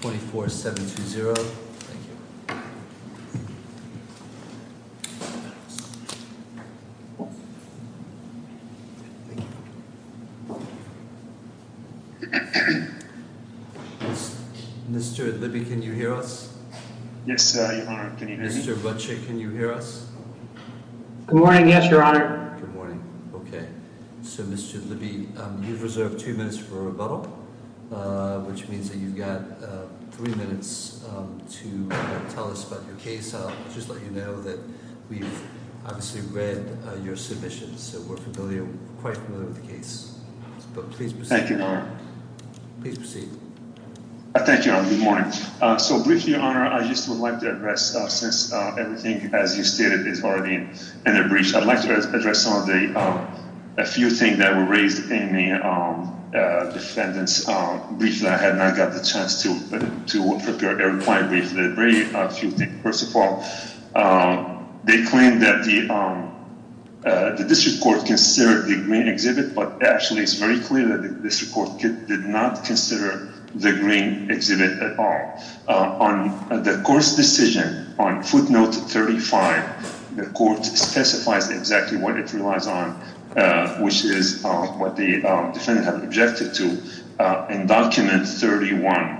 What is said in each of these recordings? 24-720. Thank you. Mr. Idlibi, can you hear us? Yes, Your Honor, can you hear me? Mr. Butchick, can you hear us? Good morning, yes, Your Honor. Good morning. Okay. So Mr. Idlibi, you've reserved two minutes for a rebuttal, which means that you've got three minutes to tell us about your case. I'll just let you know that we've obviously read your submissions, so we're familiar, quite familiar with the case. But please proceed. Thank you, Your Honor. Please proceed. Thank you, Your Honor. Good morning. So briefly, Your Honor, I just would like to address, since everything, as you stated, is already in a breach, I'd like to address a few things that were raised in the defendants' brief that I had not got the chance to prepare. Very briefly, a few things. First of all, they claim that the district court considered the green exhibit, but actually it's very clear that the district court did not consider the green exhibit at all. On the court's decision, on footnote 35, the court specifies exactly what it relies on, which is what the defendant had objected to in document 31,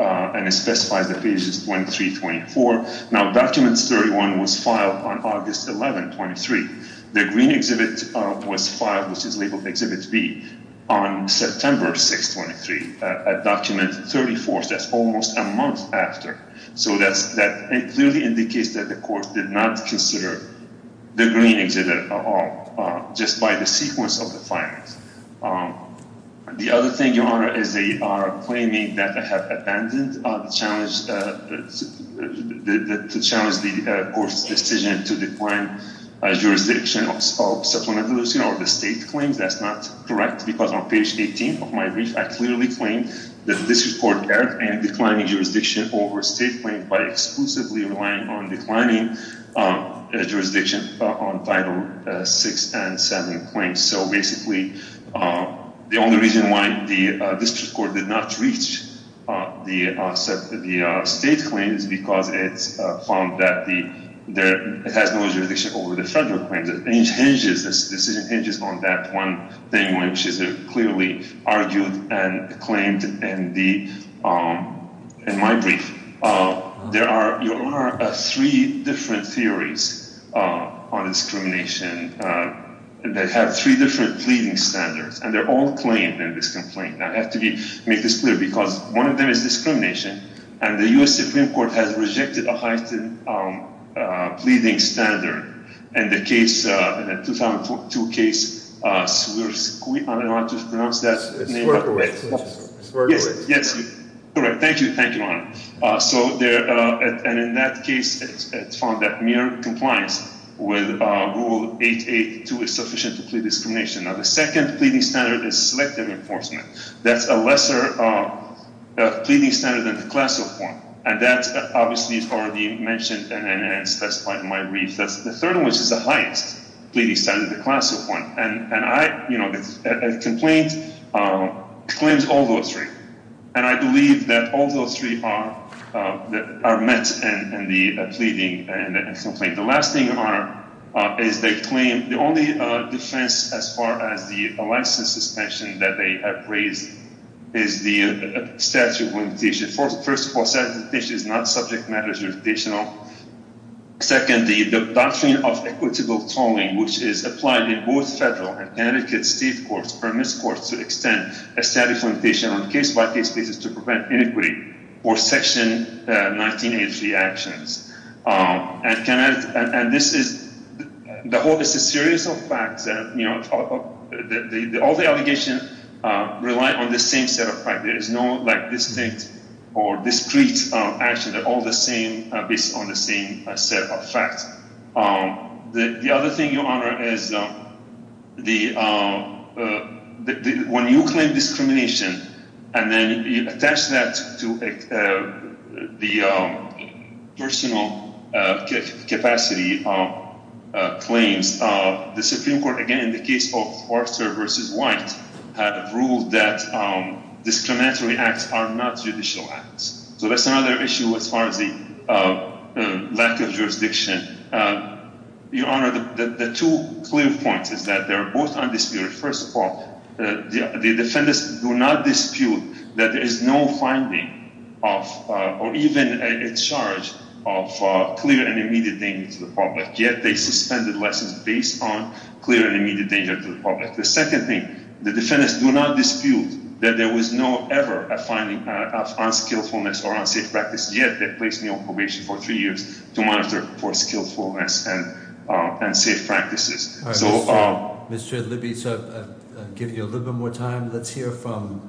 and it specifies that page is 23-24. Now, document 31 was filed on August 11, 23. The green exhibit was filed, which is labeled exhibit B, on September 6, 23. At document 34, that's almost a month after. So that clearly indicates that the court did not consider the green exhibit at all, just by the sequence of the filings. The other thing, Your Honor, is they are claiming that they have abandoned the challenge, to challenge the court's decision to decline a jurisdiction of supplemental leasing, or the state claims. That's not correct, because on page 18 of my brief, I clearly claim that the district court erred in declining jurisdiction over state claims by exclusively relying on declining jurisdiction on Title VI and VII claims. So basically, the only reason why the district court did not reach the state claims is because it found that it has no jurisdiction over the federal claims. The decision hinges on that one thing, which is clearly argued and claimed in my brief. There are three different theories on discrimination that have three different pleading standards, and they're all claimed in this complaint. I have to make this clear, because one of them is discrimination, and the U.S. Supreme Court has rejected a heightened pleading standard in the case, in the 2002 case, Swerkiewicz. Swerkiewicz. Yes, correct. Thank you, Your Honor. And in that case, it found that mere compliance with Rule 882 is sufficient to plead discrimination. Now, the second pleading standard is selective enforcement. That's a lesser pleading standard than the class of one, and that's obviously already mentioned and specified in my brief. The third one, which is the highest pleading standard, the class of one, and I, you know, the complaint claims all those three, and I believe that all those three are met in the pleading and the complaint. The last thing, Your Honor, is they claim the only defense as far as the license suspension that they have raised is the statute of limitation. First of all, the statute of limitation is not subject matter jurisdictional. Second, the doctrine of equitable tolling, which is applied in both federal and Connecticut state courts, permits courts to extend a statute of limitation on case-by-case basis to prevent inequity or Section 1983 actions. And this is—the whole—this is a series of facts that, you know, all the allegations rely on the same set of facts. There is no, like, distinct or discrete action. They're all the same, based on the same set of facts. The other thing, Your Honor, is the—when you claim discrimination and then you attach that to the personal capacity claims, the Supreme Court, again, in the case of Forster v. White, had ruled that discriminatory acts are not judicial acts. So that's another issue as far as the lack of jurisdiction. Your Honor, the two clear points is that they're both undisputed. First of all, the defendants do not dispute that there is no finding of—or even a charge of clear and immediate damage to the public, yet they suspended lessons based on clear and immediate danger to the public. The second thing, the defendants do not dispute that there was no ever a finding of unskillfulness or unsafe practice, yet they placed me on probation for three years to monitor for skillfulness and unsafe practices. So— Mr. Libby, so I'll give you a little bit more time. Let's hear from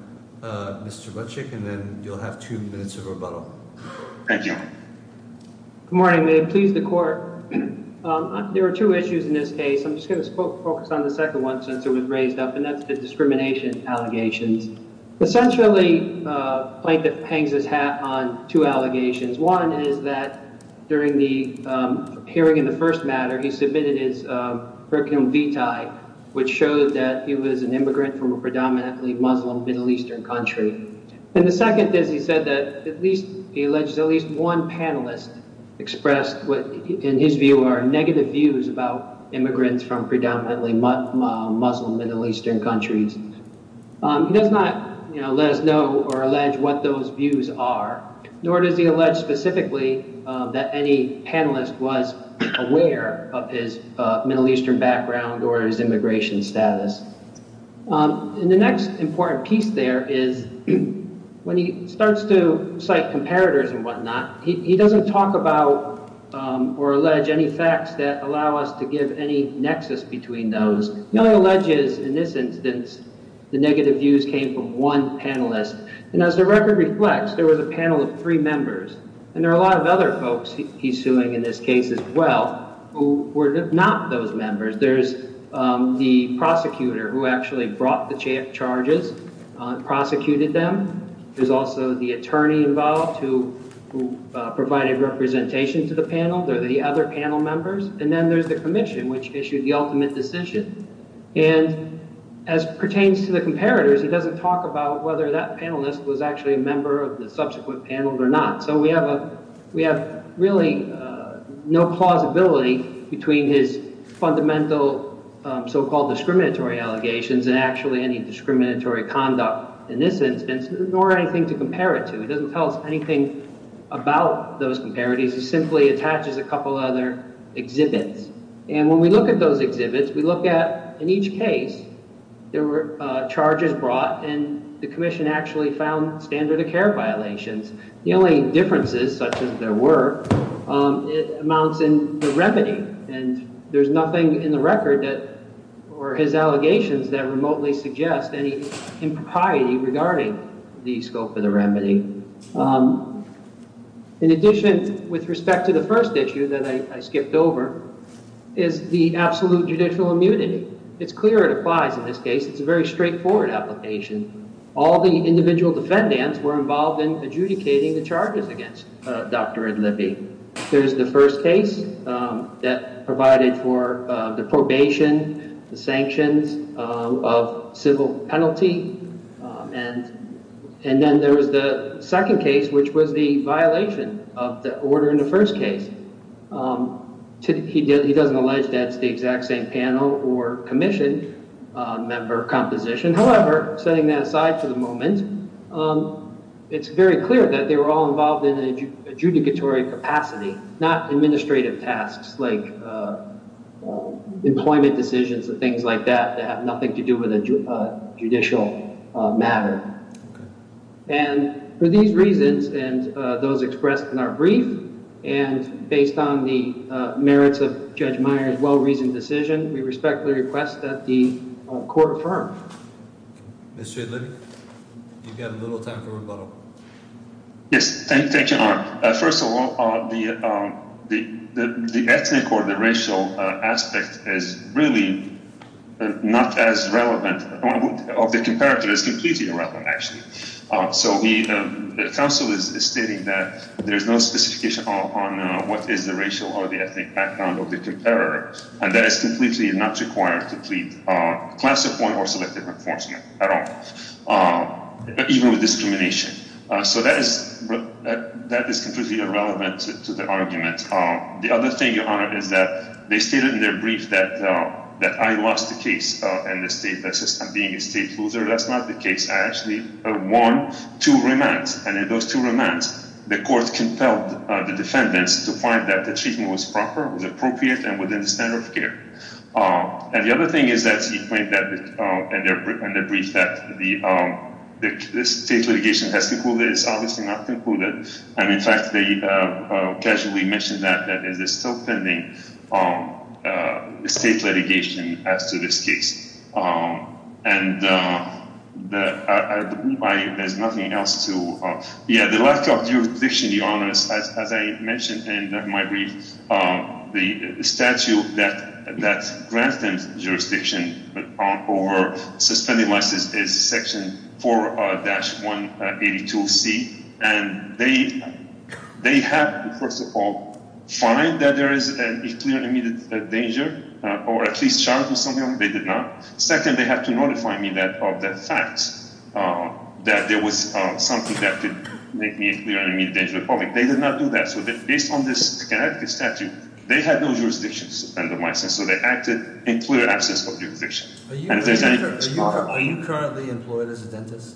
Mr. Butchik, and then you'll have two minutes of rebuttal. Thank you. Good morning. May it please the Court. There are two issues in this case. I'm just going to focus on the second one since it was raised up, and that's the discrimination allegations. Essentially, Plankett hangs his hat on two allegations. One is that during the hearing in the first matter, he submitted his curriculum vitae, which showed that he was an immigrant from a predominantly Muslim Middle Eastern country. And the second is he said that at least—he alleged that at least one panelist expressed what, in his view, are negative views about immigrants from predominantly Muslim Middle Eastern countries. He does not, you know, let us know or allege what those views are, nor does he allege specifically that any panelist was aware of his Middle Eastern background or his immigration status. And the next important piece there is when he starts to cite comparators and whatnot, he doesn't talk about or allege any facts that allow us to give any nexus between those. He only alleges, in this instance, the negative views came from one panelist. And as the record reflects, there was a panel of three members, and there are a lot of other folks he's suing in this case as well who were not those members. There's the prosecutor who actually brought the charges, prosecuted them. There's also the attorney involved who provided representation to the panel. They're the other panel members. And then there's the commission, which issued the ultimate decision. And as pertains to the comparators, he doesn't talk about whether that panelist was actually a member of the subsequent panel or not. So we have really no plausibility between his fundamental so-called discriminatory allegations and actually any discriminatory conduct in this instance, nor anything to compare it to. He doesn't tell us anything about those comparators. He simply attaches a couple other exhibits. And when we look at those exhibits, we look at, in each case, there were charges brought, and the commission actually found standard of care violations. The only differences, such as there were, amounts in the remedy. And there's nothing in the record or his allegations that remotely suggest any impropriety regarding the scope of the remedy. In addition, with respect to the first issue that I skipped over, is the absolute judicial immunity. It's clear it applies in this case. It's a very straightforward application. All the individual defendants were involved in adjudicating the charges against Dr. Idlibi. There's the first case that provided for the probation, the sanctions of civil penalty. And then there was the second case, which was the violation of the order in the first case. He doesn't allege that it's the exact same panel or commission member composition. And, however, setting that aside for the moment, it's very clear that they were all involved in an adjudicatory capacity, not administrative tasks like employment decisions and things like that that have nothing to do with a judicial matter. And for these reasons and those expressed in our brief, and based on the merits of Judge Meyer's well-reasoned decision, we respectfully request that the court affirm. Mr. Idlibi, you've got a little time for rebuttal. Yes, thank you, Your Honor. First of all, the ethnic or the racial aspect is really not as relevant of the comparator as completely irrelevant, actually. So the counsel is stating that there's no specification on what is the racial or the ethnic background of the comparator, and that it's completely not required to plead classified or selective enforcement at all, even with discrimination. So that is completely irrelevant to the argument. The other thing, Your Honor, is that they stated in their brief that I lost the case in the state. That's just I'm being a state loser. That's not the case. I actually won two remands, and in those two remands, the court compelled the defendants to find that the treatment was proper, was appropriate, and within the standard of care. And the other thing is that he pointed out in the brief that the state litigation has concluded. It's obviously not concluded. And, in fact, they casually mentioned that there's still pending state litigation as to this case. And there's nothing else to – yeah, the lack of jurisdiction, Your Honor, as I mentioned in my brief, the statute that grants them jurisdiction over suspended license is Section 4-182C. And they have to, first of all, find that there is a clear and immediate danger or at least charge me something. They did not. Second, they have to notify me of the fact that there was something that could make me a clear and immediate danger to the public. They did not do that. So based on this statute, they had no jurisdictions under the license, so they acted in clear absence of jurisdiction. Are you currently employed as a dentist?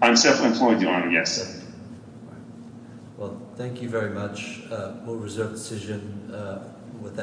I'm currently employed, Your Honor, yes, sir. All right. Well, thank you very much. We'll reserve the decision with that.